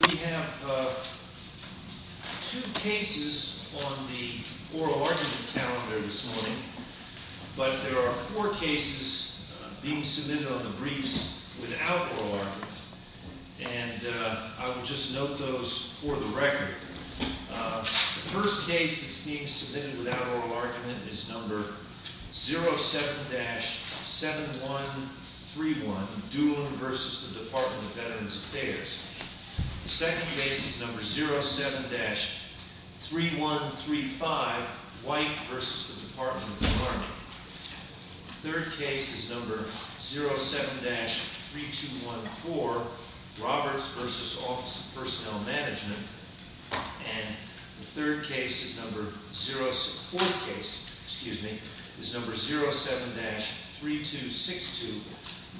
We have two cases on the oral argument calendar this morning, but there are four cases being submitted on the briefs without oral argument, and I will just note those for the record. The first case that's being submitted without oral argument is number 07-7131, Doolin v. Department of Veterans Affairs. The second case is number 07-3135, White v. Department of the Army. The third case is number 07-3214, Roberts v. Office of Personnel Management. And the third case is number – fourth case, excuse me – is number 07-3262,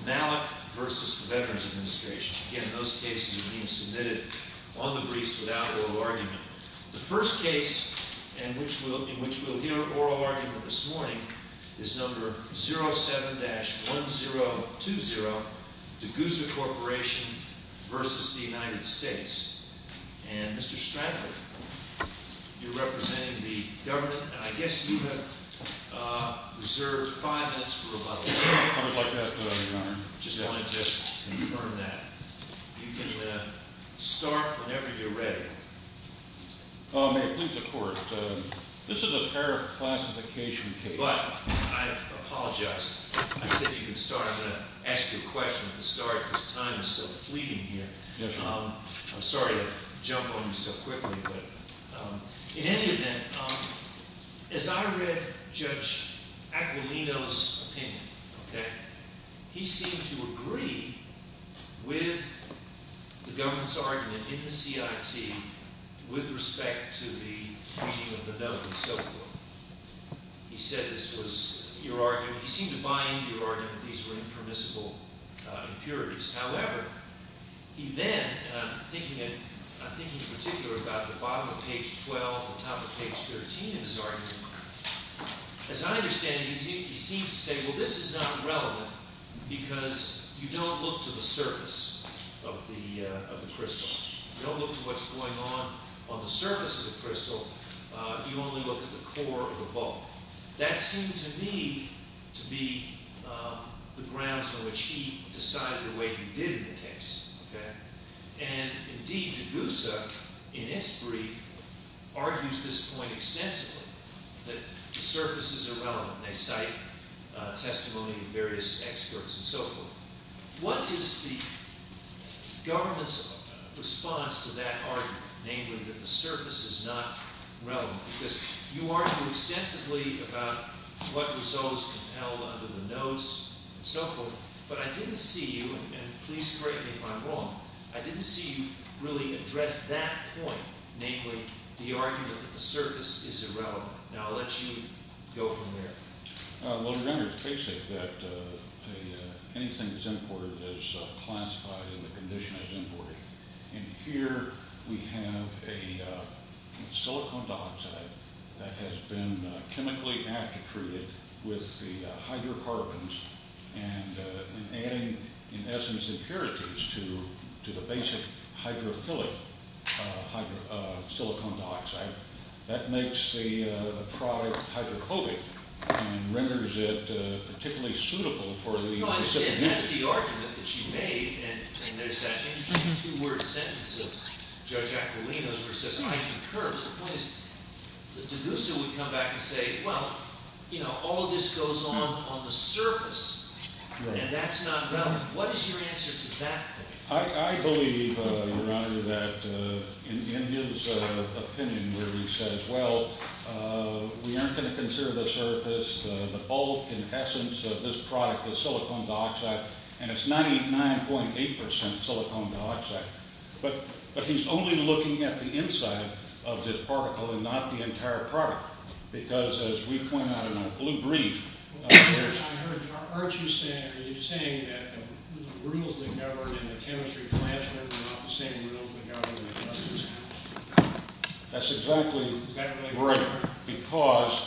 Malick v. Veterans Administration. Again, those cases are being submitted on the briefs without oral argument. The first case in which we'll hear oral argument this morning is number 07-1020, Degussa Corporation v. United States. And Mr. Stratford, you're representing the government, and I guess you have reserved five minutes for rebuttal. I would like that, Your Honor. I just wanted to confirm that. You can start whenever you're ready. May it please the Court. This is a pair of classification cases. But I apologize. I said you could start. I'm going to ask you a question at the start because time is so fleeting here. I'm sorry to jump on you so quickly. But in any event, as I read Judge Aquilino's opinion, okay, he seemed to agree with the government's argument in the CIT with respect to the meeting of the note and so forth. He said this was your argument. He seemed to bind your argument that these were impermissible impurities. However, he then – and I'm thinking in particular about the bottom of page 12 and the top of page 13 of his argument. As I understand it, he seems to say, well, this is not relevant because you don't look to the surface of the crystal. You don't look to what's going on on the surface of the crystal. You only look at the core of the ball. That seemed to me to be the grounds on which he decided the way he did in the case. Okay? And indeed, DeGusa, in its brief, argues this point extensively, that the surfaces are relevant. They cite testimony of various experts and so forth. What is the government's response to that argument, namely that the surface is not relevant? Because you argue extensively about what results can held under the notes and so forth. But I didn't see you – and please correct me if I'm wrong – I didn't see you really address that point, namely the argument that the surface is irrelevant. Now I'll let you go from there. Well, it's rendered basic that anything that's imported is classified and the condition is imported. And here we have a silicon dioxide that has been chemically aftertreated with the hydrocarbons and adding, in essence, impurities to the basic hydrophilic silicon dioxide. That makes the product hydrophobic and renders it particularly suitable for the – Well, I understand that's the argument that you made, and there's that interesting two-word sentence of Judge Aquilino's where he says, I concur. But the point is that DeGusa would come back and say, well, all of this goes on on the surface, and that's not relevant. What is your answer to that point? I believe, Your Honor, that in his opinion where he says, well, we aren't going to consider the surface. The bulk, in essence, of this product is silicon dioxide, and it's 99.8% silicon dioxide. But he's only looking at the inside of this particle and not the entire product because, as we point out in our blue brief – Your Honor, aren't you saying that the rules that govern in the chemistry classroom are not the same rules that govern in the chemistry classroom? That's exactly right, because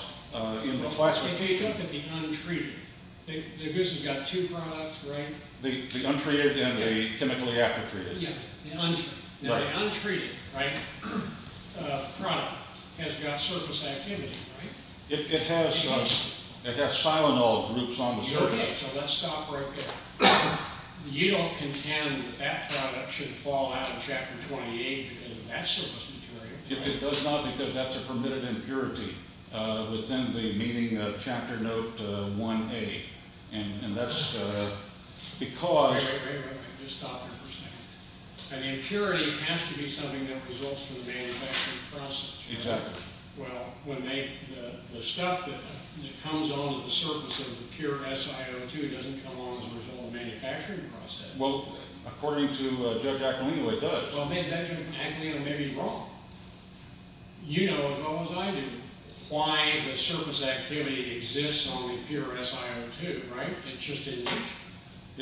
in the classroom – If you look at the untreated – DeGusa's got two products, right? The untreated and the chemically aftertreated? Yeah, the untreated. The untreated product has got surface activity, right? It has silanol groups on the surface. Okay, so let's stop right there. You don't contend that that product should fall out of Chapter 28 because of that surface material, right? It does not because that's a permitted impurity within the meaning of Chapter Note 1A, and that's because – Wait, wait, wait, wait. Just stop there for a second. An impurity has to be something that results from the manufacturing process, right? Exactly. Well, when they – the stuff that comes onto the surface of the pure SiO2 doesn't come along as a result of the manufacturing process. Well, according to Judge Acalino, it does. Well, Judge Acalino may be wrong. You know as well as I do why the surface activity exists on the pure SiO2, right? It's just in –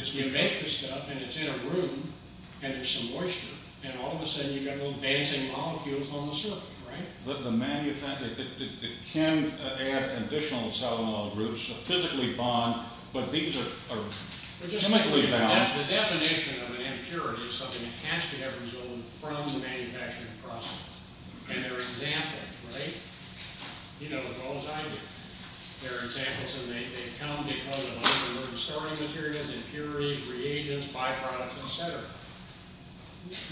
you make the stuff, and it's in a room, and there's some moisture, and all of a sudden you've got little dancing molecules on the surface, right? The – it can add additional SiO2 groups, so physically bond, but these are chemically bound. The definition of an impurity is something that has to have resulted from the manufacturing process, and they're examples, right? You know as well as I do. They're examples, and they come because of the starting materials, impurities, reagents, byproducts, et cetera.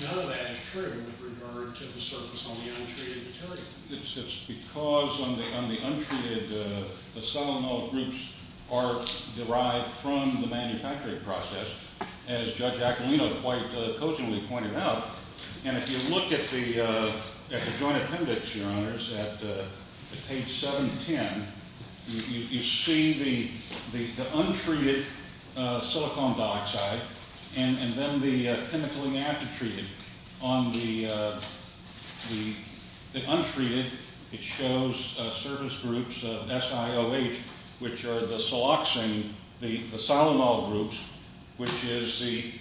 None of that is true with regard to the surface on the untreated material. It's because on the untreated, the solenoid groups are derived from the manufacturing process, as Judge Acalino quite poignantly pointed out. And if you look at the joint appendix, Your Honors, at page 710, you see the untreated silicon dioxide, and then the chemically after-treated. On the untreated, it shows surface groups, SiOH, which are the siloxane, the solenoid groups, which is the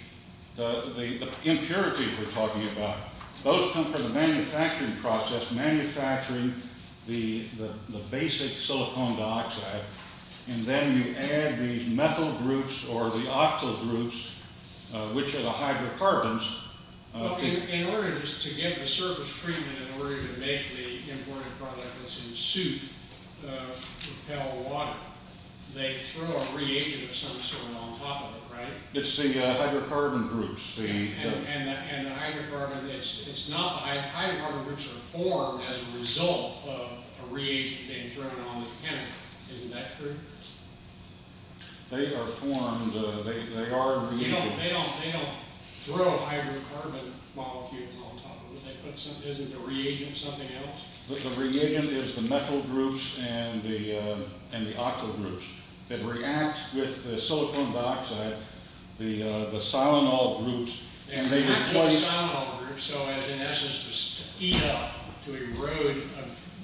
impurities we're talking about. Those come from the manufacturing process, manufacturing the basic silicon dioxide, and then you add these methyl groups or the octyl groups, which are the hydrocarbons. Well, in order to get the surface treatment, in order to make the imported product that's in soup repel water, they throw a reagent of some sort on top of it, right? It's the hydrocarbon groups. And the hydrocarbon groups are formed as a result of a reagent being thrown on the chemical. Isn't that true? They are formed, they are reagents. They don't throw hydrocarbon molecules on top of it. Isn't the reagent something else? The reagent is the methyl groups and the octyl groups. They react with the silicon dioxide, the solenoid groups, and they replace... They react with the solenoid groups, so in essence, to eat up, to erode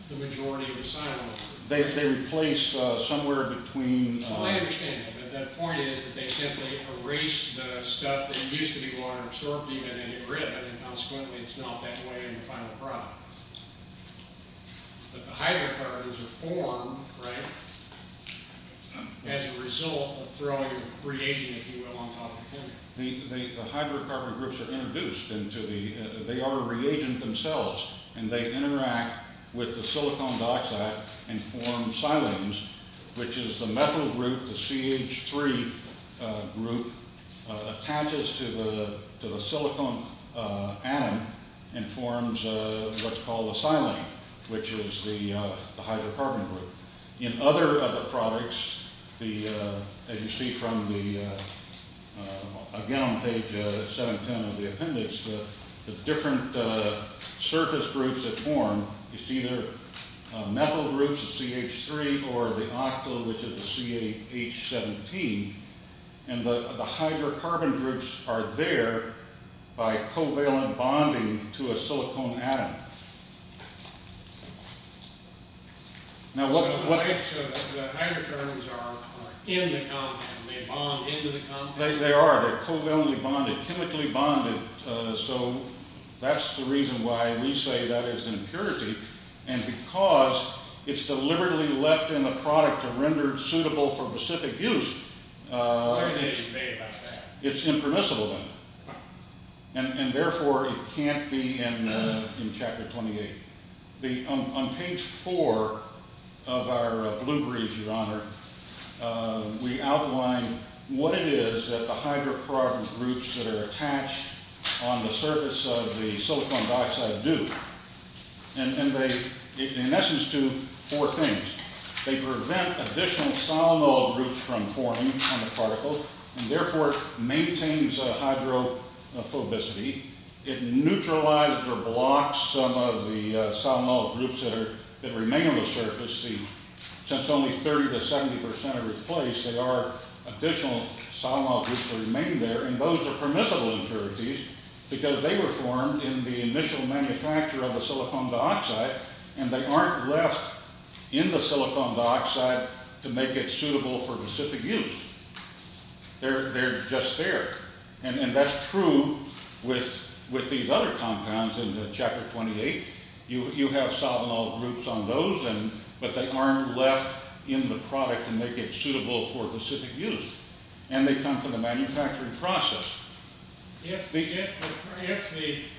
the majority of the solenoid groups. They replace somewhere between... Well, I understand that, but the point is that they simply erase the stuff that used to be water-absorbed, even, and erode it, and consequently it's not that way in the final product. But the hydrocarbons are formed, right, as a result of throwing a reagent, if you will, on top of the chemical. The hydrocarbon groups are introduced into the... The CH3 group attaches to the silicon atom and forms what's called a silane, which is the hydrocarbon group. In other of the products, as you see from the... the different surface groups that form, it's either methyl groups of CH3 or the octyl, which is the CH17, and the hydrocarbon groups are there by covalent bonding to a silicon atom. Now what... So the hydrocarbons are in the compound, they bond into the compound? They are, they're covalently bonded, chemically bonded, so that's the reason why we say that is impurity, and because it's deliberately left in the product to render it suitable for specific use, it's impermissible then. And therefore it can't be in Chapter 28. On page 4 of our blue brief, Your Honor, we outline what it is that the hydrocarbons groups that are attached on the surface of the silicon dioxide do. And they, in essence, do four things. They prevent additional solenoid groups from forming on the particle, and therefore maintains hydrophobicity. It neutralizes or blocks some of the solenoid groups that remain on the surface. Since only 30 to 70% are replaced, there are additional solenoid groups that remain there, and those are permissible impurities because they were formed in the initial manufacture of the silicon dioxide, and they aren't left in the silicon dioxide to make it suitable for specific use. They're just there. And that's true with these other compounds in Chapter 28. You have solenoid groups on those, but they aren't left in the product to make it suitable for specific use. And they come from the manufacturing process. If the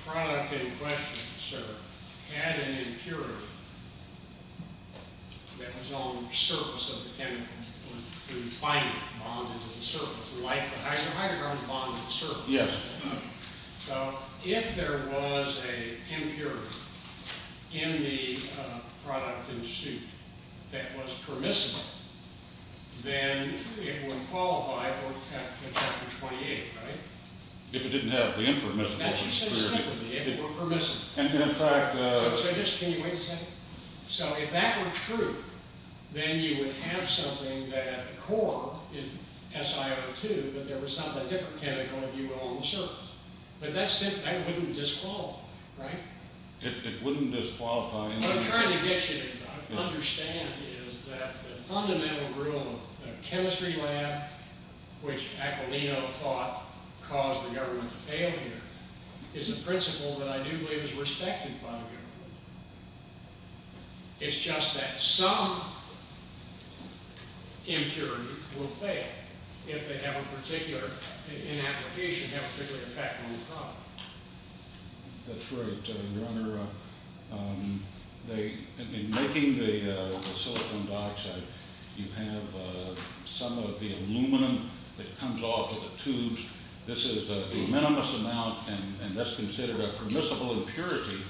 product in question, sir, had an impurity that was on the surface of the chemical, the binding bond to the surface, like the hydrocarbon bond to the surface. Yes. So if there was an impurity in the product in the suit that was permissible, then it would qualify for Chapter 28, right? If it didn't have the impermissible impurity. That's just a statement. If it were permissible. And in fact... So just, can you wait a second? So if that were true, then you would have something that at the core, in SiO2, that there was something different chemical, if you will, on the surface. But that wouldn't disqualify, right? It wouldn't disqualify. What I'm trying to get you to understand is that the fundamental rule of chemistry lab, which Aquilino thought caused the government to fail here, is a principle that I do believe is respected by the government. It's just that some impurity will fail if they have a particular, in application, have a particular impact on the product. That's right. Your Honor, in making the silicon dioxide, you have some of the aluminum that comes off of the tubes. This is a minimum amount, and that's considered a permissible impurity.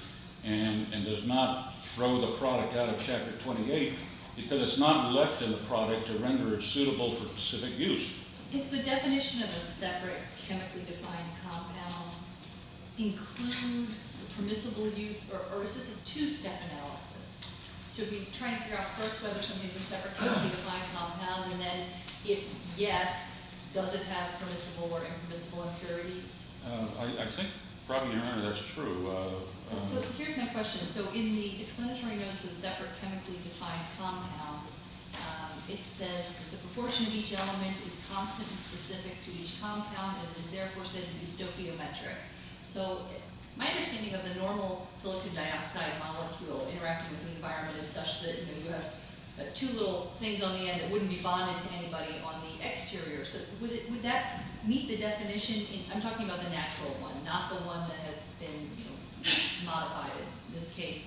And does not throw the product out of Chapter 28, because it's not left in the product to render it suitable for specific use. Does the definition of a separate chemically defined compound include permissible use, or is this a two-step analysis? Should we try to figure out first whether something is a separate chemically defined compound, and then if yes, does it have permissible or impermissible impurities? I think, probably, Your Honor, that's true. So here's my question. So in the explanatory notes for the separate chemically defined compound, it says the proportion of each element is constant and specific to each compound, and is therefore said to be stoichiometric. So my understanding of the normal silicon dioxide molecule interacting with the environment is such that you have two little things on the end that wouldn't be bonded to anybody on the exterior. So would that meet the definition? I'm talking about the natural one, not the one that has been modified in this case.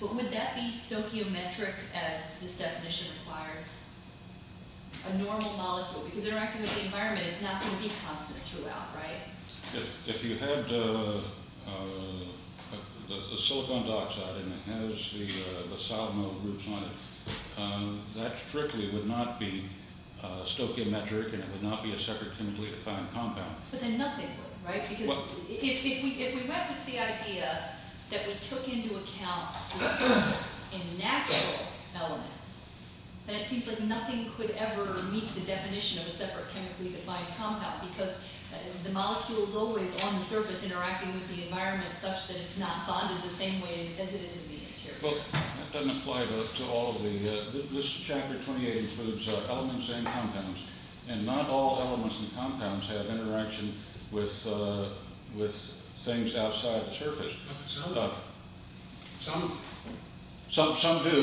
But would that be stoichiometric as this definition requires? A normal molecule, because interacting with the environment, it's not going to be constant throughout, right? If you had a silicon dioxide and it has the solenoid groups on it, that strictly would not be stoichiometric and it would not be a separate chemically defined compound. But then nothing would, right? Because if we went with the idea that we took into account the surface in natural elements, then it seems like nothing could ever meet the definition of a separate chemically defined compound because the molecule is always on the surface interacting with the environment such that it's not bonded the same way as it is in the interior. Well, that doesn't apply to all of the, this chapter 28 includes elements and compounds. And not all elements and compounds have interaction with things outside the surface. Some do. Some do,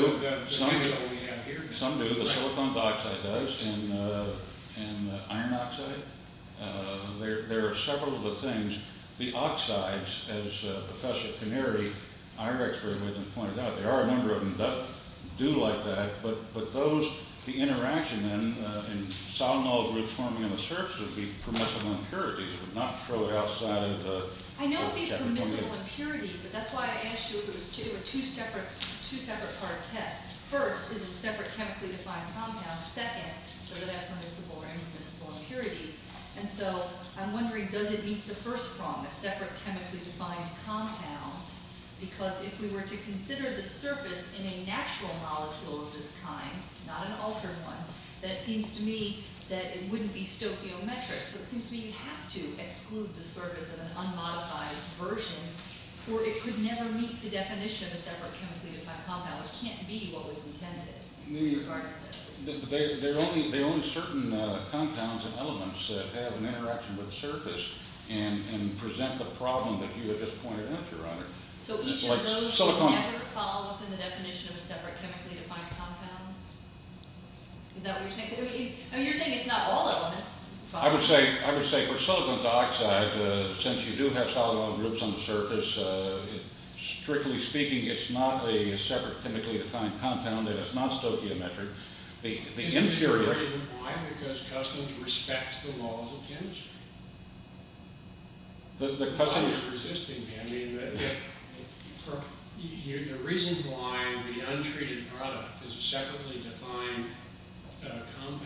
the silicon dioxide does, and the iron oxide. There are several of the things. The oxides, as Professor Canary, our expert, pointed out, there are a number of them that do like that, but those, the interaction in solenoid groups forming on the surface would be permissible impurities. It would not throw it outside of the chapter 28. I know it would be permissible impurities, but that's why I asked you if it was two separate part tests. First, is it a separate chemically defined compound? Second, are there permissible or impermissible impurities? And so I'm wondering, does it meet the first prong, a separate chemically defined compound? Because if we were to consider the surface in a natural molecule of this kind, not an altered one, then it seems to me that it wouldn't be stoichiometric. So it seems to me you have to exclude the surface of an unmodified version or it could never meet the definition of a separate chemically defined compound, which can't be what was intended. There are only certain compounds and elements that have an interaction with the surface and present the problem that you have just pointed out, Your Honor. So each of those would never fall within the definition of a separate chemically defined compound? Is that what you're saying? I mean, you're saying it's not all elements. I would say for silicon dioxide, since you do have solenoid groups on the surface, strictly speaking, it's not a separate chemically defined compound and it's not stoichiometric. The interior... Why? Because customs respect the laws of chemistry. The reason why the untreated product is a separately defined compound.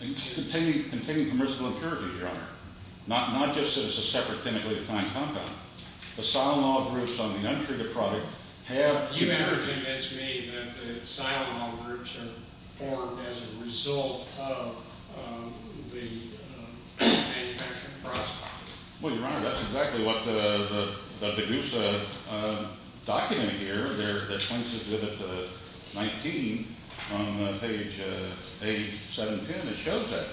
It's containing permissible impurities, Your Honor. Not just that it's a separate chemically defined compound. The solenoid groups on the untreated product have... You've never convinced me that the solenoid groups are formed as a result of the manufacturing process. Well, Your Honor, that's exactly what the BDUSA document here, that points us to the 19 on page 710, it shows that.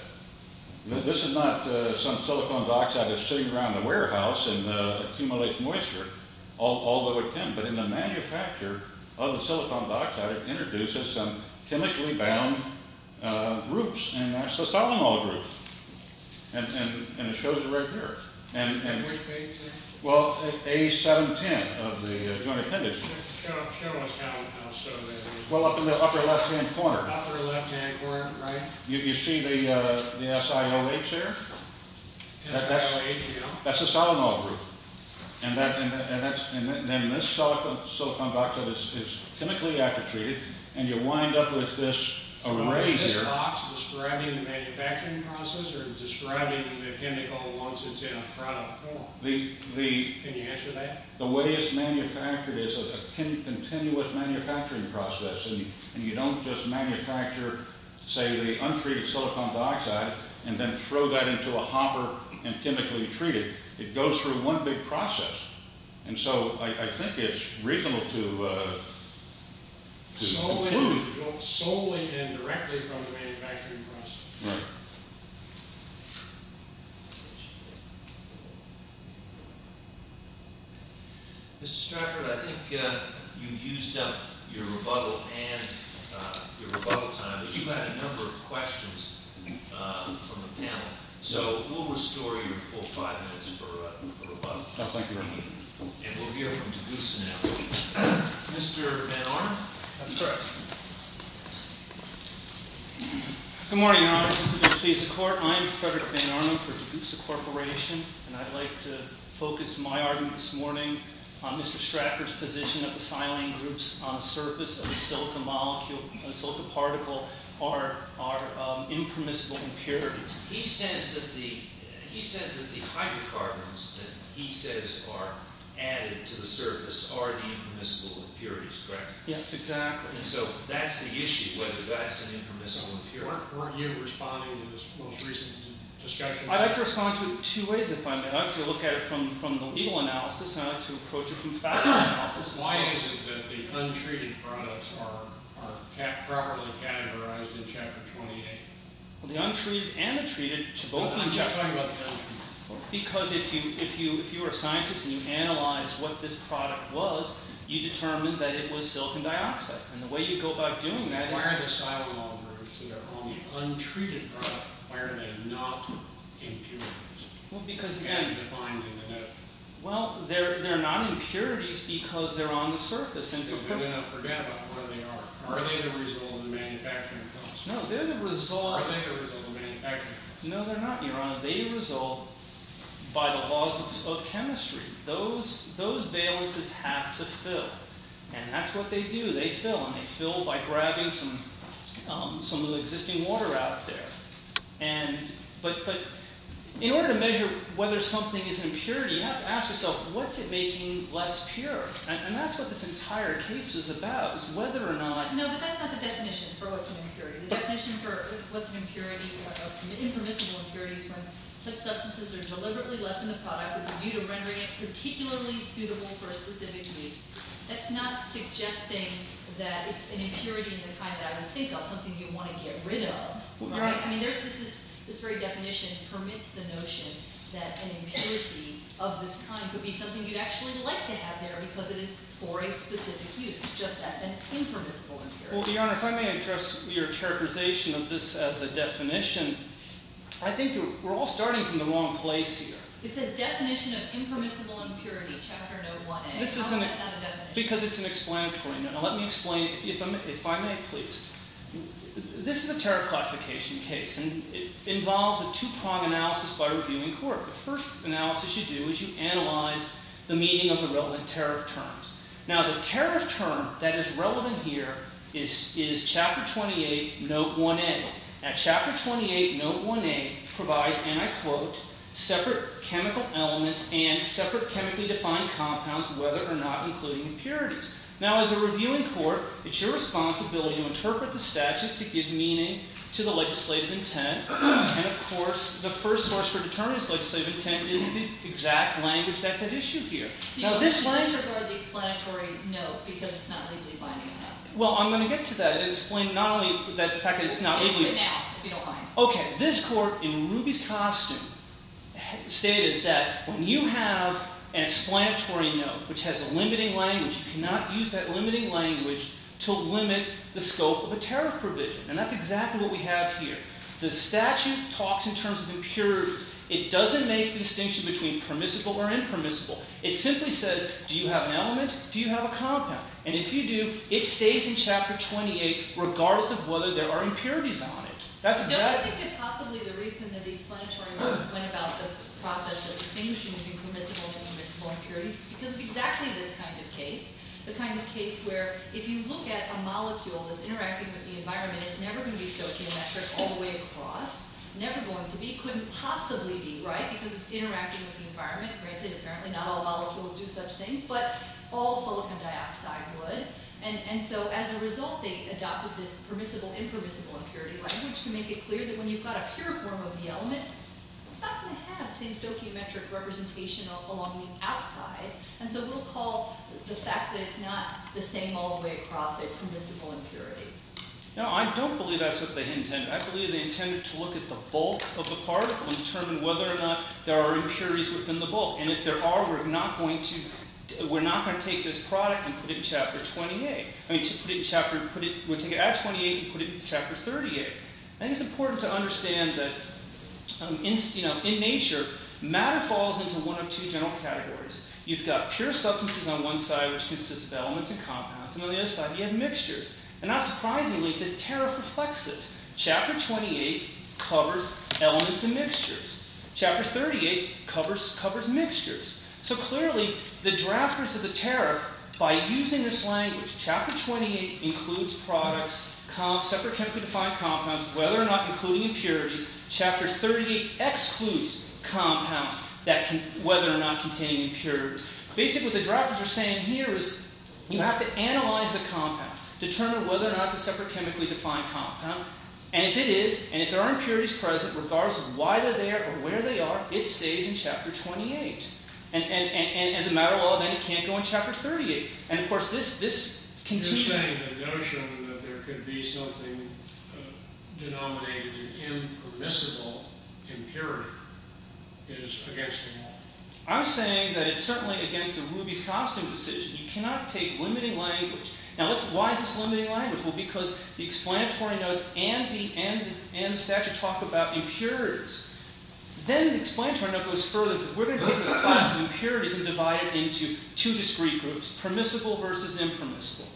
This is not some silicon dioxide that's sitting around the warehouse and accumulates moisture, although it can, but in the manufacture of the silicon dioxide, it introduces some chemically bound groups and that's the solenoid groups. And it shows it right here. And which page is it? Well, page 710 of the Joint Appendix. Just show us how it's shown there. Well, up in the upper left-hand corner. Upper left-hand corner, right? You see the SIOH there? SIOH, yeah. That's the solenoid group. And then this silicon dioxide is chemically aftertreated and you wind up with this array here. So is this box describing the manufacturing process or describing the chemical once it's in a product form? Can you answer that? The way it's manufactured is a continuous manufacturing process. And you don't just manufacture, say, the untreated silicon dioxide and then throw that into a hopper and chemically treat it. It goes through one big process. And so I think it's reasonable to conclude. Solely and directly from the manufacturing process. Right. Mr. Stratford, I think you've used up your rebuttal and your rebuttal time, but you've had a number of questions from the panel. So we'll restore your full five minutes for rebuttal. Sounds like a good idea. And we'll hear from Tagusa now. Mr. Van Arn? That's correct. Good morning, Your Honor. I'm Frederick Van Arn for Tagusa Corporation. And I'd like to focus my argument this morning on Mr. Stratford's position that the silane groups on the surface of a silicon molecule, a silicon particle, are impermissible impurities. He says that the hydrocarbons that he says are added to the surface are the impermissible impurities, correct? Yes, exactly. And so that's the issue, whether that's an impermissible impurity. Weren't you responding to this most recent discussion? I'd like to respond to it two ways if I may. I'd like to look at it from the legal analysis and I'd like to approach it from factual analysis as well. Why is it that the untreated products are properly categorized in Chapter 28? Well, the untreated and the treated should both be in Chapter 28. Because if you are a scientist and you analyze what this product was, you determine that it was silicon dioxide. And the way you go about doing that is- Why are the silane groups that are on the untreated product, why are they not impurities? Because again- As defined in the note. Well, they're not impurities because they're on the surface. We're going to forget about what they are. Are they the result of the manufacturing process? No, they're the result- Or are they the result of manufacturing? No, they're not, Your Honor. They result by the laws of chemistry. Those valences have to fill. And that's what they do. They fill. And they fill by grabbing some of the existing water out there. But in order to measure whether something is an impurity, you have to ask yourself, what's it making less pure? And that's what this entire case is about, is whether or not- No, but that's not the definition for what's an impurity. The definition for what's an impurity- An impermissible impurity is when such substances are deliberately left in the product with a view to rendering it particularly suitable for a specific use. That's not suggesting that it's an impurity in the kind that I would think of, something you'd want to get rid of. You're right. I mean, this very definition permits the notion that an impurity of this kind could be something you'd actually like to have there because it is for a specific use. It's just that's an impermissible impurity. Well, Your Honor, if I may address your characterization of this as a definition, I think we're all starting from the wrong place here. It says definition of impermissible impurity, Chapter 01A. How is that a definition? Because it's an explanatory note. Now let me explain, if I may, please. This is a tariff classification case, and it involves a Tupon analysis by reviewing court. The first analysis you do is you analyze the meaning of the relevant tariff terms. Now the tariff term that is relevant here is Chapter 28, Note 1A. Now Chapter 28, Note 1A provides, and I quote, separate chemical elements and separate chemically defined compounds, whether or not including impurities. Now as a reviewing court, it's your responsibility to interpret the statute to give meaning to the legislative intent. And, of course, the first source for determining this legislative intent is the exact language that's at issue here. You can disregard the explanatory note because it's not legally binding on us. Well, I'm going to get to that and explain not only the fact that it's not legally binding. We'll get to that if we don't mind. Okay, this court, in Ruby's costume, stated that when you have an explanatory note, which has a limiting language, you cannot use that limiting language to limit the scope of a tariff provision. And that's exactly what we have here. The statute talks in terms of impurities. It doesn't make the distinction between permissible or impermissible. It simply says, do you have an element? Do you have a compound? And if you do, it stays in Chapter 28 regardless of whether there are impurities on it. That's exactly it. No, I think that possibly the reason that the explanatory note went about the process of distinguishing between permissible and impermissible impurities is because of exactly this kind of case. The kind of case where, if you look at a molecule that's interacting with the environment, it's never going to be stoichiometric all the way across. Never going to be. Couldn't possibly be, right? Because it's interacting with the environment. Granted, apparently not all molecules do such things, but all silicon dioxide would. And so as a result, they adopted this permissible-impermissible impurity language to make it clear that when you've got a pure form of the element, it's not going to have the same stoichiometric representation along the outside. And so we'll call the fact that it's not the same all the way across a permissible impurity. No, I don't believe that's what they intended. I believe they intended to look at the bulk of the particle and determine whether or not there are impurities within the bulk. And if there are, we're not going to take this product and put it in Chapter 28. We'll take it at 28 and put it in Chapter 38. I think it's important to understand that in nature, matter falls into one of two general categories. You've got pure substances on one side, which consists of elements and compounds, and on the other side, you have mixtures. And not surprisingly, the tariff reflects it. Chapter 28 covers elements and mixtures. Chapter 38 covers mixtures. So clearly, the drafters of the tariff, by using this language, Chapter 28 includes products, separate chemically defined compounds, whether or not including impurities. Chapter 38 excludes compounds whether or not containing impurities. Basically what the drafters are saying here is you have to analyze the compound, determine whether or not it's a separate chemically defined compound, and if it is, and if there are impurities present, regardless of why they're there or where they are, it stays in Chapter 28. And as a matter of law, then it can't go in Chapter 38. And of course, this continues... You're saying the notion that there could be something denominated an impermissible impurity is against the law. I'm saying that it's certainly against the Ruby's Costume decision. You cannot take limiting language. Now, why is this limiting language? Well, because the explanatory notes and the statute talk about impurities. Then the explanatory note goes further. We're going to take this class of impurities and divide it into two discrete groups, permissible versus impermissible.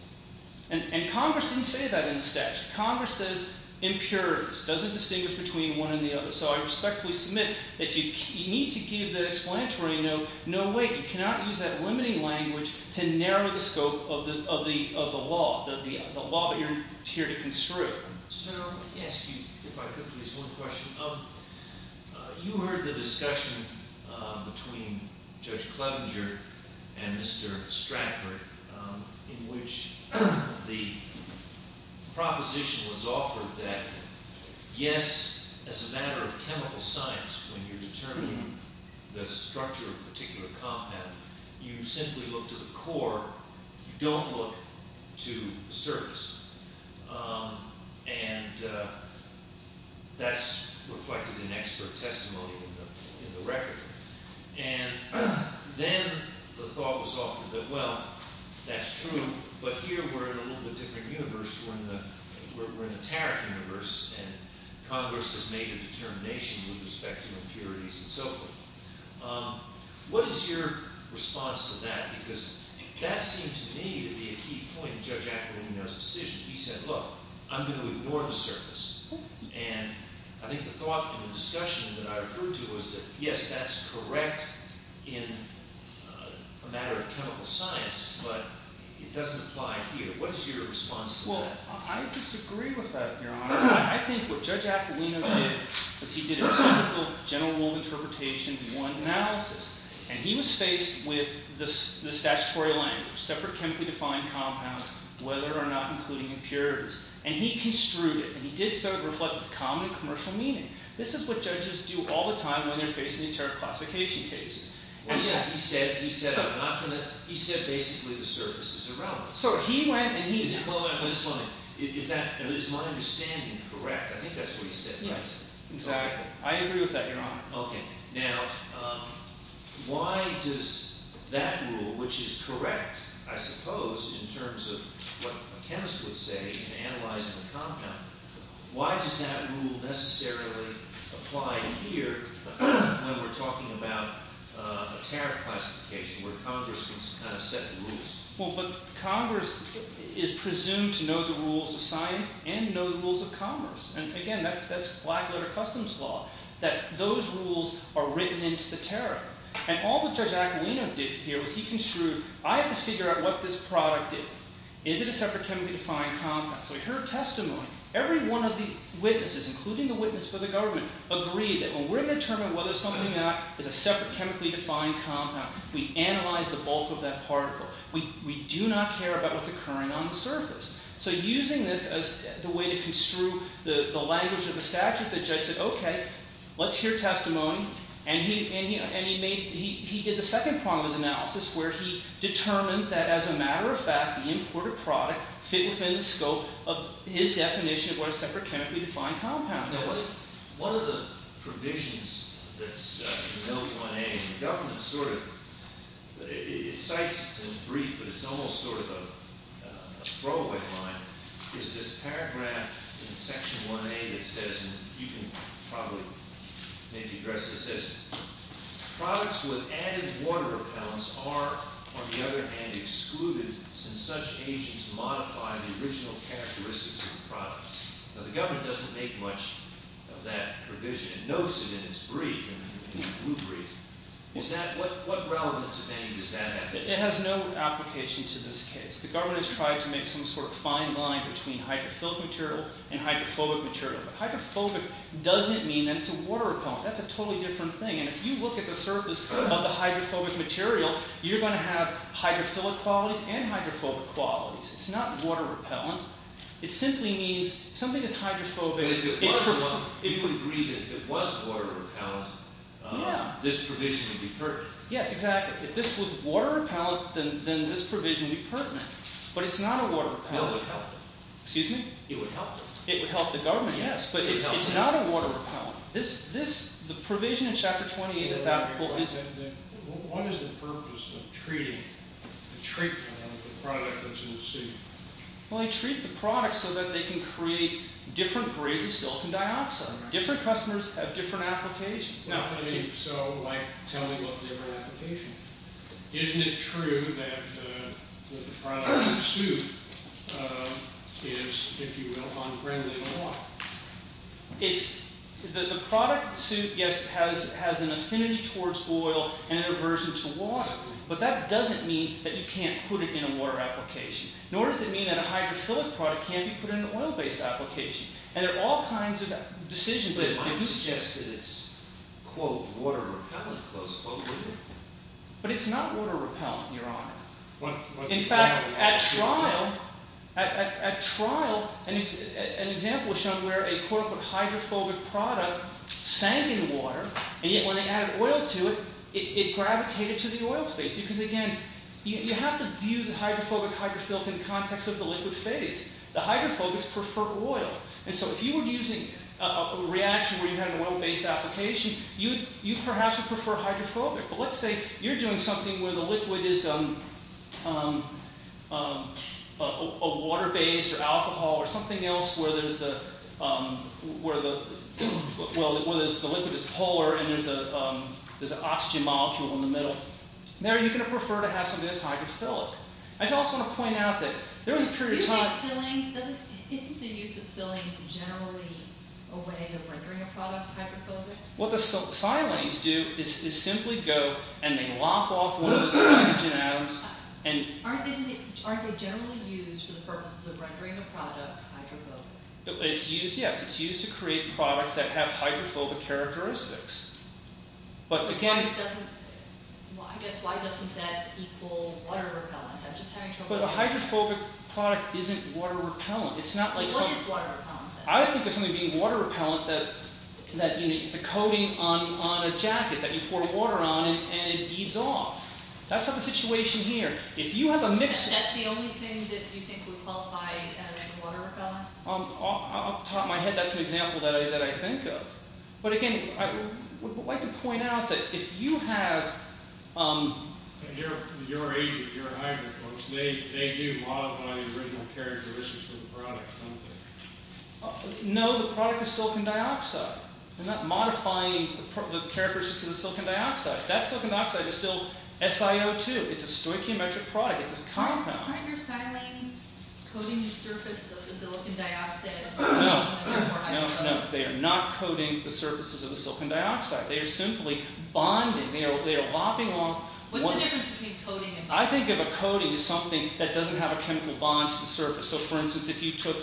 And Congress didn't say that in the statute. Congress says impurities. It doesn't distinguish between one and the other. So I respectfully submit that you need to give the explanatory note no way. You cannot use that limiting language to narrow the scope of the law, the law that you're here to construe. Sir, let me ask you, if I could, please, one question. You heard the discussion between Judge Clevenger and Mr. Stratford in which the proposition was offered that, yes, as a matter of chemical science, when you're determining the structure of a particular compound, you simply look to the core. You don't look to the surface. And that's reflected in expert testimony in the record. And then the thought was offered that, well, that's true, but here we're in a little bit different universe. We're in a taric universe, and Congress has made a determination with respect to impurities and so forth. What is your response to that? Because that seemed to me to be a key point in Judge Aquilino's decision. He said, look, I'm going to ignore the surface. And I think the thought and the discussion that I referred to was that, yes, that's correct in a matter of chemical science, but it doesn't apply here. What is your response to that? Well, I disagree with that, Your Honor. I think what Judge Aquilino did was he did a typical general rule interpretation of one analysis, and he was faced with the statutory language, separate chemically defined compounds, whether or not including impurities. And he construed it, and he did so to reflect its common and commercial meaning. This is what judges do all the time when they're facing these taric classification cases. Well, yeah, he said basically the surface is irrelevant. So he went and he said… Is my understanding correct? I think that's what he said, right? Yes, exactly. I agree with that, Your Honor. Okay. Now, why does that rule, which is correct, I suppose, in terms of what a chemist would say in analyzing a compound, why does that rule necessarily apply here when we're talking about a taric classification where Congress can kind of set the rules? Well, but Congress is presumed to know the rules of science and know the rules of commerce. And, again, that's black-letter customs law, that those rules are written into the taric. And all that Judge Aquino did here was he construed, I have to figure out what this product is. Is it a separate chemically defined compound? So we heard testimony. Every one of the witnesses, including the witness for the government, agreed that when we're going to determine whether something is a separate chemically defined compound, we analyze the bulk of that particle. We do not care about what's occurring on the surface. So using this as the way to construe the language of the statute, the judge said, okay, let's hear testimony. And he did the second part of his analysis where he determined that, as a matter of fact, the imported product fit within the scope of his definition of what a separate chemically defined compound is. Now, what are the provisions that's in L1A? And the government sort of – it cites it in its brief, but it's almost sort of a throwaway line, is this paragraph in Section 1A that says – and you can probably maybe address this – products with added water or pounds are, on the other hand, excluded since such agents modify the original characteristics of the product. Now, the government doesn't make much of that provision. It notes it in its brief, in the blue brief. Is that – what relevance of any does that have? It has no application to this case. The government has tried to make some sort of fine line between hydrophilic material and hydrophobic material. But hydrophobic doesn't mean that it's a water repellent. That's a totally different thing. And if you look at the surface of the hydrophobic material, you're going to have hydrophilic qualities and hydrophobic qualities. It's not water repellent. It simply means something is hydrophobic. If you agree that if it was water repellent, this provision would be pertinent. Yes, exactly. If this was water repellent, then this provision would be pertinent. But it's not a water repellent. It would help. Excuse me? It would help. It would help the government, yes. But it's not a water repellent. The provision in Chapter 28 is applicable. What is the purpose of treating the product that you will see? Well, they treat the product so that they can create different grades of silk and dioxide. Different customers have different applications. So, like, tell me what the other application is. Isn't it true that the product suit is, if you will, unfriendly to water? The product suit, yes, has an affinity towards oil and an aversion to water. But that doesn't mean that you can't put it in a water application. Nor does it mean that a hydrophobic product can't be put in an oil-based application. And there are all kinds of decisions that can be made. But it might suggest that it's, quote, water repellent, close quote, wouldn't it? But it's not water repellent, Your Honor. In fact, at trial, an example was shown where a, quote, hydrophobic product sank in water. And yet when they added oil to it, it gravitated to the oil space. Because, again, you have to view the hydrophobic, hydrophilic in context of the liquid phase. The hydrophobics prefer oil. And so if you were using a reaction where you had an oil-based application, you perhaps would prefer hydrophobic. But let's say you're doing something where the liquid is a water-based or alcohol or something else where the liquid is polar and there's an oxygen molecule in the middle. Now, are you going to prefer to have something that's hydrophilic? I just also want to point out that there was a period of time— Isn't the use of silanes generally a way of rendering a product hydrophobic? What the silanes do is simply go and they lop off one of those oxygen atoms and— Aren't they generally used for the purposes of rendering a product hydrophobic? It's used, yes. It's used to create products that have hydrophobic characteristics. Why doesn't that equal water-repellent? I'm just having trouble— But a hydrophobic product isn't water-repellent. What is water-repellent then? I would think of something being water-repellent that it's a coating on a jacket that you pour water on and it beads off. That's not the situation here. If you have a mix— That's the only thing that you think would qualify as water-repellent? Off the top of my head, that's an example that I think of. But again, I would like to point out that if you have— Your agent, your hydrophobics, they do modify the original characteristics of the product, don't they? No, the product is silicon dioxide. They're not modifying the characteristics of the silicon dioxide. That silicon dioxide is still SiO2. It's a stoichiometric product. It's a compound. Aren't your silanes coating the surface of the silicon dioxide? No, no, no. They are not coating the surfaces of the silicon dioxide. They are simply bonding. They are lopping off— What's the difference between coating and bonding? I think of a coating as something that doesn't have a chemical bond to the surface. So for instance, if you took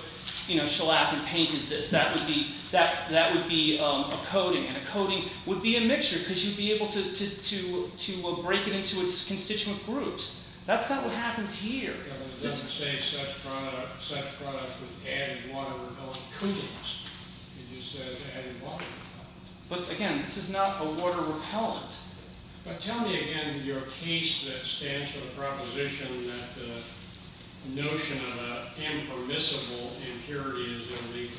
shellac and painted this, that would be a coating. And a coating would be a mixture because you'd be able to break it into its constituent groups. That's not what happens here. It doesn't say such products would add water repellent coatings. It just says add water repellent. But again, this is not a water repellent. But tell me again your case that stands for the proposition that the notion of an impermissible impurity is illegal.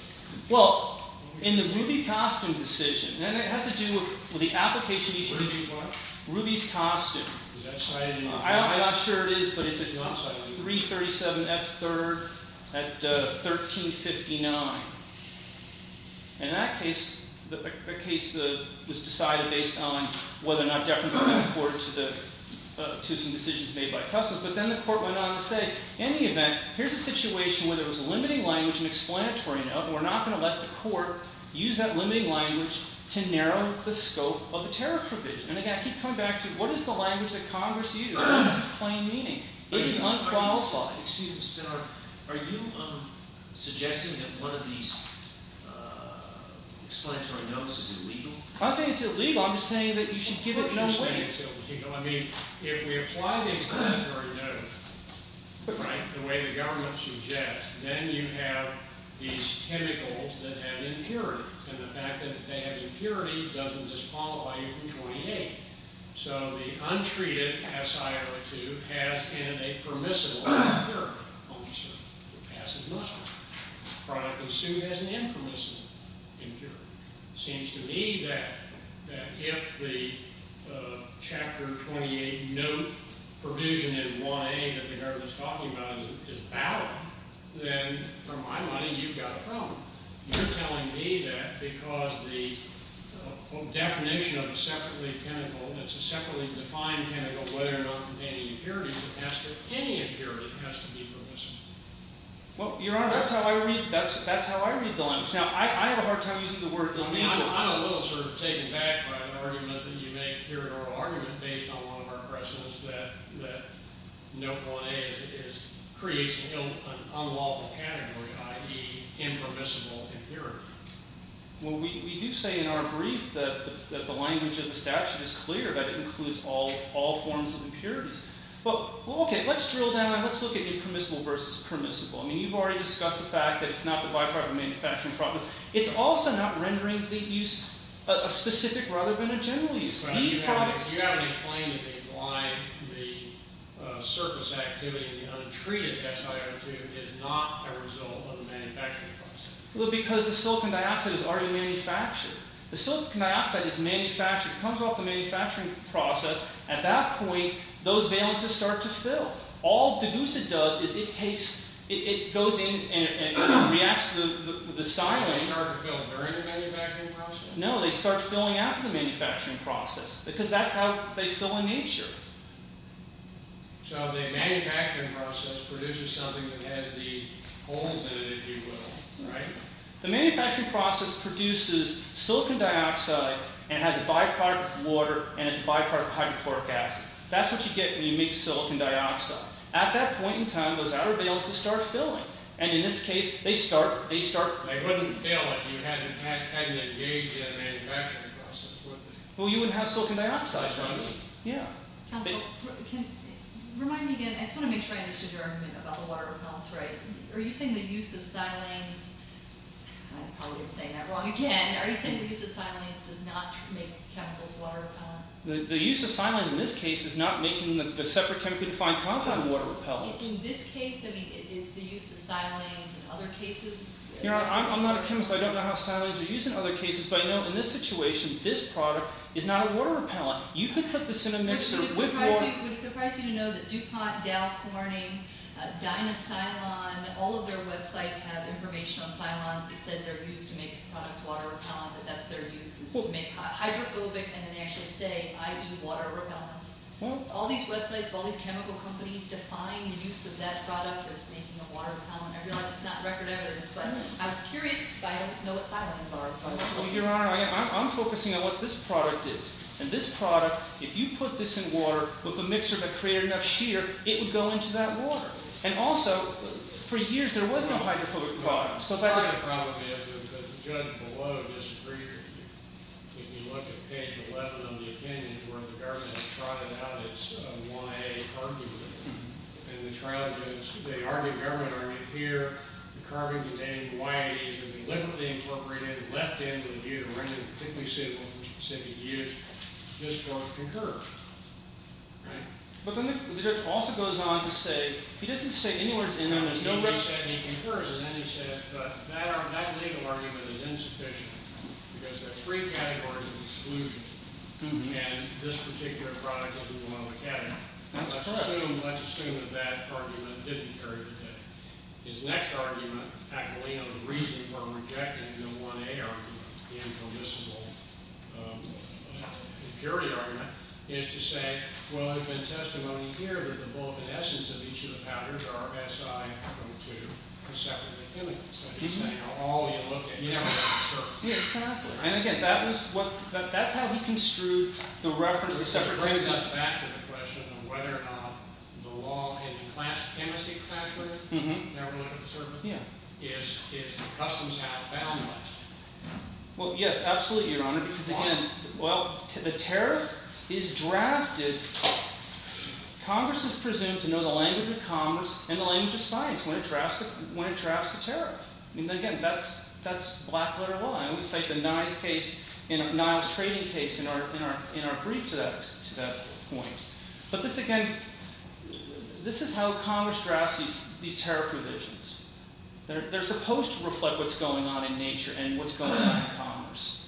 Well, in the Ruby costume decision—and it has to do with the application issue— Ruby what? Ruby's costume. Is that cited in the law? I'm not sure it is, but it's a— I'm sorry. —337F3rd at 1359. In that case, the case was decided based on whether or not deference would be accorded to some decisions made by Customs. But then the court went on to say, in any event, here's a situation where there was a limiting language and explanatory note, and we're not going to let the court use that limiting language to narrow the scope of the tariff provision. And again, I keep coming back to what is the language that Congress uses? It's plain meaning. It is unqualified. Excuse me. Are you suggesting that one of these explanatory notes is illegal? I'm not saying it's illegal. I'm just saying that you should give it no weight. I mean, if we apply the explanatory note, right, the way the government suggests, then you have these chemicals that have impurity. And the fact that they have impurity doesn't disqualify you from 28. So the untreated SIO2 has in it a permissible impurity on the surface. The passive muster product assumed has an impermissible impurity. It seems to me that if the Chapter 28 note provision in 1A that the government is talking about is valid, then from my line of view, you've got a problem. You're telling me that because the definition of a separately chemical that's a separately defined chemical, whether or not containing impurities or passive, any impurity has to be permissible. Well, Your Honor, that's how I read the language. Now, I have a hard time using the word permissible. I'm a little sort of taken back by an argument that you make here in oral argument based on one of our precedents that note 1A creates an unlawful category, i.e., impermissible impurity. Well, we do say in our brief that the language of the statute is clear that it includes all forms of impurities. Well, okay, let's drill down. Let's look at impermissible versus permissible. I mean you've already discussed the fact that it's not the byproduct of manufacturing process. It's also not rendering the use a specific rather than a general use. You haven't explained that the surface activity, the untreated ethyl alkyl is not a result of the manufacturing process. Well, because the silicon dioxide is already manufactured. The silicon dioxide is manufactured. It comes off the manufacturing process. At that point, those valences start to fill. All deglucid does is it takes – it goes in and reacts to the styrene. They start to fill during the manufacturing process? No, they start filling after the manufacturing process because that's how they fill in nature. So the manufacturing process produces something that has these holes in it, if you will, right? The manufacturing process produces silicon dioxide and has a byproduct of water and has a byproduct of hydrochloric acid. That's what you get when you mix silicon dioxide. At that point in time, those outer valences start filling. And in this case, they start – they start – Well, you wouldn't have silicon dioxide, would you? Yeah. Remind me again. I just want to make sure I understood your argument about the water repellents, right? Are you saying the use of silanes – I'm probably saying that wrong again. Are you saying the use of silanes does not make chemicals water repellent? The use of silanes in this case is not making the separate chemically defined compound water repellent. In this case, I mean, is the use of silanes in other cases? You know, I'm not a chemist. I don't know how silanes are used in other cases. But I know in this situation, this product is not a water repellent. You could put this in a mixer with water. Would it surprise you to know that DuPont, Dow Corning, Dynasilon, all of their websites have information on silones. They said they're used to make products water repellent, but that's their use is to make hydrophobic. And then they actually say IE water repellent. All these websites of all these chemical companies define the use of that product as making a water repellent. I realize it's not record evidence, but I was curious because I don't know what silanes are. Your Honor, I'm focusing on what this product is. And this product, if you put this in water with a mixer that created enough shear, it would go into that water. And also, for years there was no hydrophobic product. So part of it probably is because the judge below disagrees with you. If you look at page 11 of the opinion where the government trotted out its YA argument. And the trial judge, they argued government argument here. The carbon-containing YAs have been liberally incorporated and left into the view. And they're particularly suitable for specific use just for concurrence. Right? But then the judge also goes on to say – he doesn't say any words in there. Nobody said any concurrence. And then he said, but that legal argument is insufficient because there are three categories of exclusion. And this particular product doesn't want to look at it. Let's assume that that argument didn't carry the case. His next argument, the reason for rejecting the 1A argument, the impermissible impurity argument, is to say, well, there's been testimony here that the bulk and essence of each of the patterns are SI from 2, except for the chemicals. So he's saying all you look at here is the surface. Yeah, exactly. And again, that's how he construed the reference to separate chemicals. So this brings us back to the question of whether or not the law in class chemistry factually never looked at the surface. Yeah. Is the customs have found that? Well, yes, absolutely, Your Honor. Why? Because again, well, the tariff is drafted. Congress is presumed to know the language of commerce and the language of science when it drafts the tariff. And again, that's black-letter law. And we cite the Niles case – Niles trading case in our brief to that point. But this again – this is how Congress drafts these tariff provisions. They're supposed to reflect what's going on in nature and what's going on in commerce.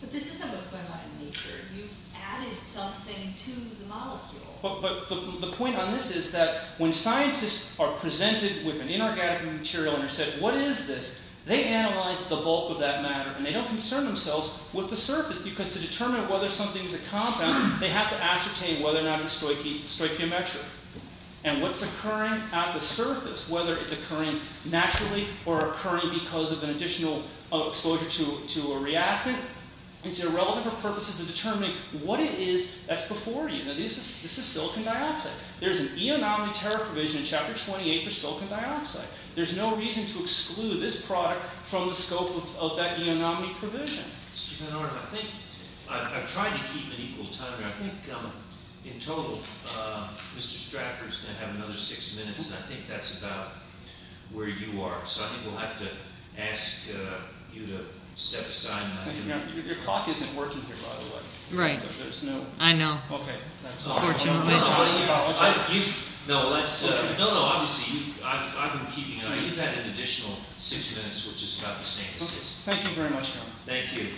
But this isn't what's going on in nature. You've added something to the molecule. But the point on this is that when scientists are presented with an inorganic material and are said, what is this? They analyze the bulk of that matter, and they don't concern themselves with the surface. Because to determine whether something's a compound, they have to ascertain whether or not it's stoichiometric. And what's occurring at the surface, whether it's occurring naturally or occurring because of an additional exposure to a reactant, it's irrelevant for purposes of determining what it is that's before you. Now, this is silicon dioxide. There's an E-anomaly tariff provision in Chapter 28 for silicon dioxide. There's no reason to exclude this product from the scope of that E-anomaly provision. I think I've tried to keep an equal time. I think, in total, Mr. Straffer's going to have another six minutes, and I think that's about where you are. So I think we'll have to ask you to step aside. Your clock isn't working here, by the way. Right. There's no – I know. Okay. That's unfortunate. No, no, obviously, I've been keeping – you've had an additional six minutes, which is about the same as his. Thank you very much, Governor. Thank you.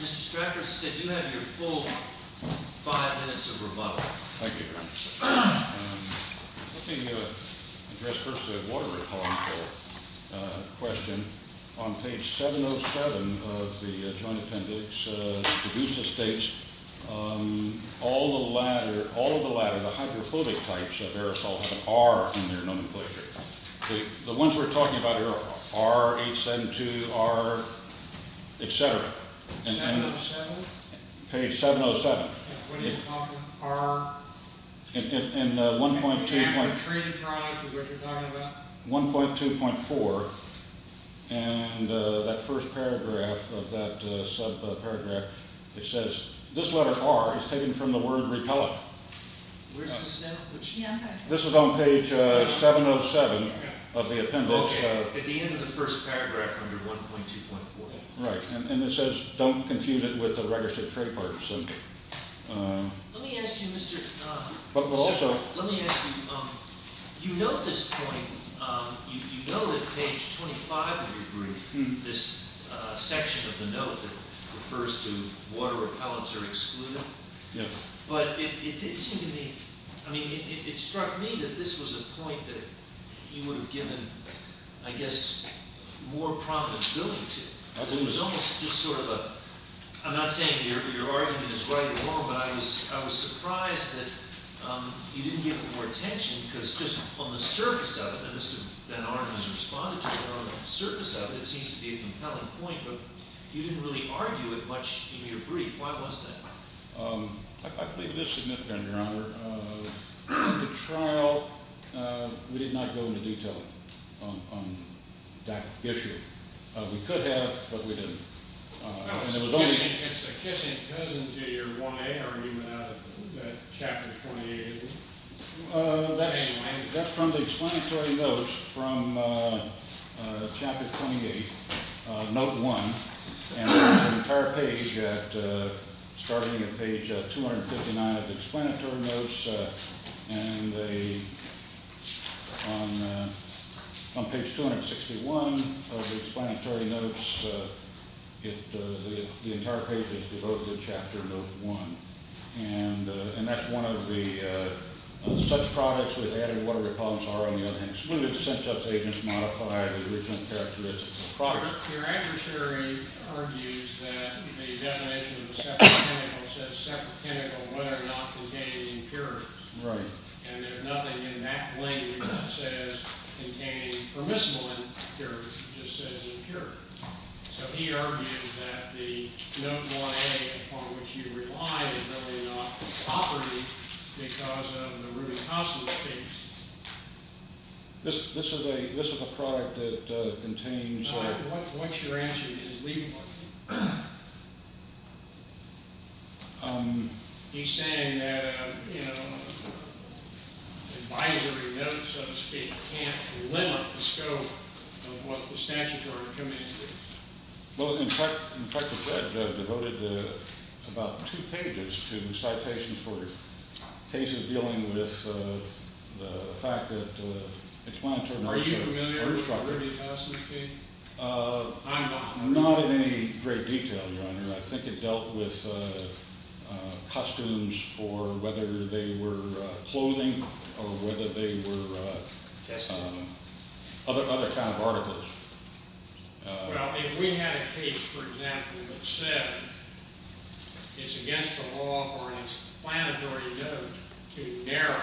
Mr. Straffer said you have your full five minutes of rebuttal. Thank you, Governor. Let me address first the water-repellent question. On page 707 of the Joint Appendix, the Caduceus states, all the latter, the hydrophobic types of aerosol have an R in their nomenclature. The ones we're talking about here are R, H72, R, et cetera. Page 707. What are you talking – R? In 1.2 – I'm retreating probably to what you're talking about. 1.2.4, and that first paragraph of that subparagraph, it says – this letter R is taken from the word repellent. Where's the – This is on page 707 of the appendix. Okay, at the end of the first paragraph under 1.2.4. Right, and it says don't confuse it with the registered trade part. Let me ask you, Mr. – But also – Let me ask you, you note this point. You know that page 25 of your brief, this section of the note that refers to water repellents are excluded. Yes. But it did seem to me – I mean, it struck me that this was a point that you would have given, I guess, more prominent billing to. It was almost just sort of a – I'm not saying your argument is right or wrong, but I was surprised that you didn't give it more attention because just on the surface of it – and Mr. Van Arnam has responded to it – on the surface of it, it seems to be a compelling point, but you didn't really argue it much in your brief. Why was that? I believe it is significant, Your Honor. The trial – we did not go into detail on that issue. We could have, but we didn't. And it was only – It's a kissing peasant to your 1A argument out of that Chapter 28. That's from the explanatory notes from Chapter 28, Note 1. And the entire page at – starting at page 259 of the explanatory notes, and on page 261 of the explanatory notes, the entire page is devoted to Chapter Note 1. And that's one of the – such products with added water repellents are, on the other hand, excluded since such agents modify the original characteristics of the product. Your adversary argues that the definition of a separate pinnacle says separate pinnacle whether or not containing impurities. Right. And there's nothing in that language that says containing permissible impurities. It just says impurities. So he argues that the Note 1A, upon which you rely, is really not property because of the Rudy Costner case. This is a product that contains – Your Honor, what's your answer to his legal argument? He's saying that, you know, advisory notes, so to speak, can't limit the scope of what the statutory recommendation is. Well, in fact, the judge devoted about two pages to citations for cases dealing with the fact that explanatory – Are you familiar with the Rudy Costner case? I'm not. I'm not in any great detail, Your Honor. I think it dealt with customs for whether they were clothing or whether they were other kind of articles. Well, if we had a case, for example, that said it's against the law or an explanatory note to narrow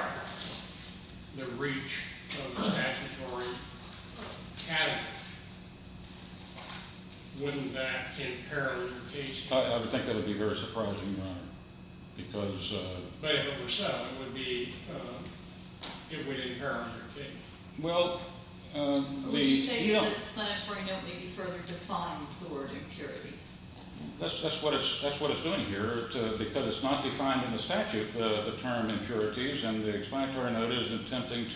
the reach of the statutory category, wouldn't that impair your case? I would think that would be very surprising, Your Honor, because – But if it were so, it would be – it would impair your case. Well, the – Would you say that the explanatory note maybe further defines the word impurities? That's what it's doing here because it's not defined in the statute, the term impurities, and the explanatory note is attempting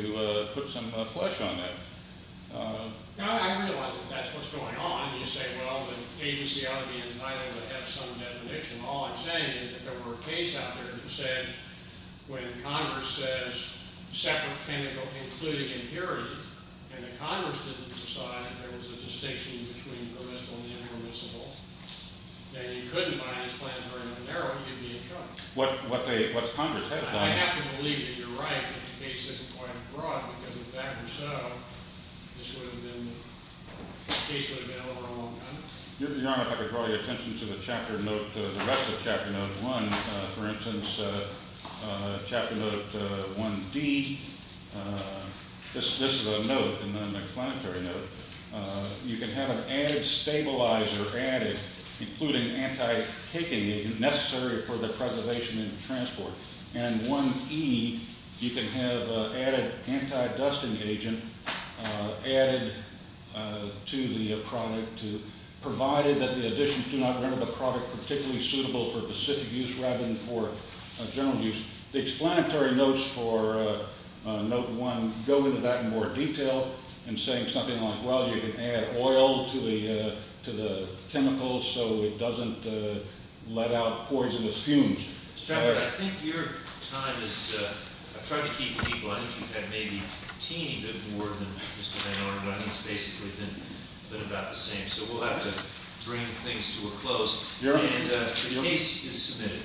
to put some flesh on that. I realize that that's what's going on. You say, well, the agency ought to be entitled to have some definition. All I'm saying is that there were a case out there that said when Congress says separate, technical, including impurities, and the Congress didn't decide that there was a distinction between permissible and impermissible, that you couldn't buy this plan to narrow it, you'd be in trouble. What the Congress has done – In fact, if so, this would have been – the case would have been over a long time. Your Honor, if I could draw your attention to the chapter note – the rest of Chapter Note 1. For instance, Chapter Note 1D, this is a note, an explanatory note. You can have an added stabilizer added, including anti-kicking agent necessary for the preservation and transport. And 1E, you can have added anti-dusting agent added to the product provided that the additions do not render the product particularly suitable for specific use rather than for general use. The explanatory notes for Note 1 go into that in more detail in saying something like, well, you can add oil to the chemicals so it doesn't let out pores in its fumes. Mr. Chairman, I think your time is – I've tried to keep it equal. I think you've had maybe a teeny bit more than Mr. Van Arnam, but I think it's basically been about the same. So we'll have to bring things to a close. And the case is submitted.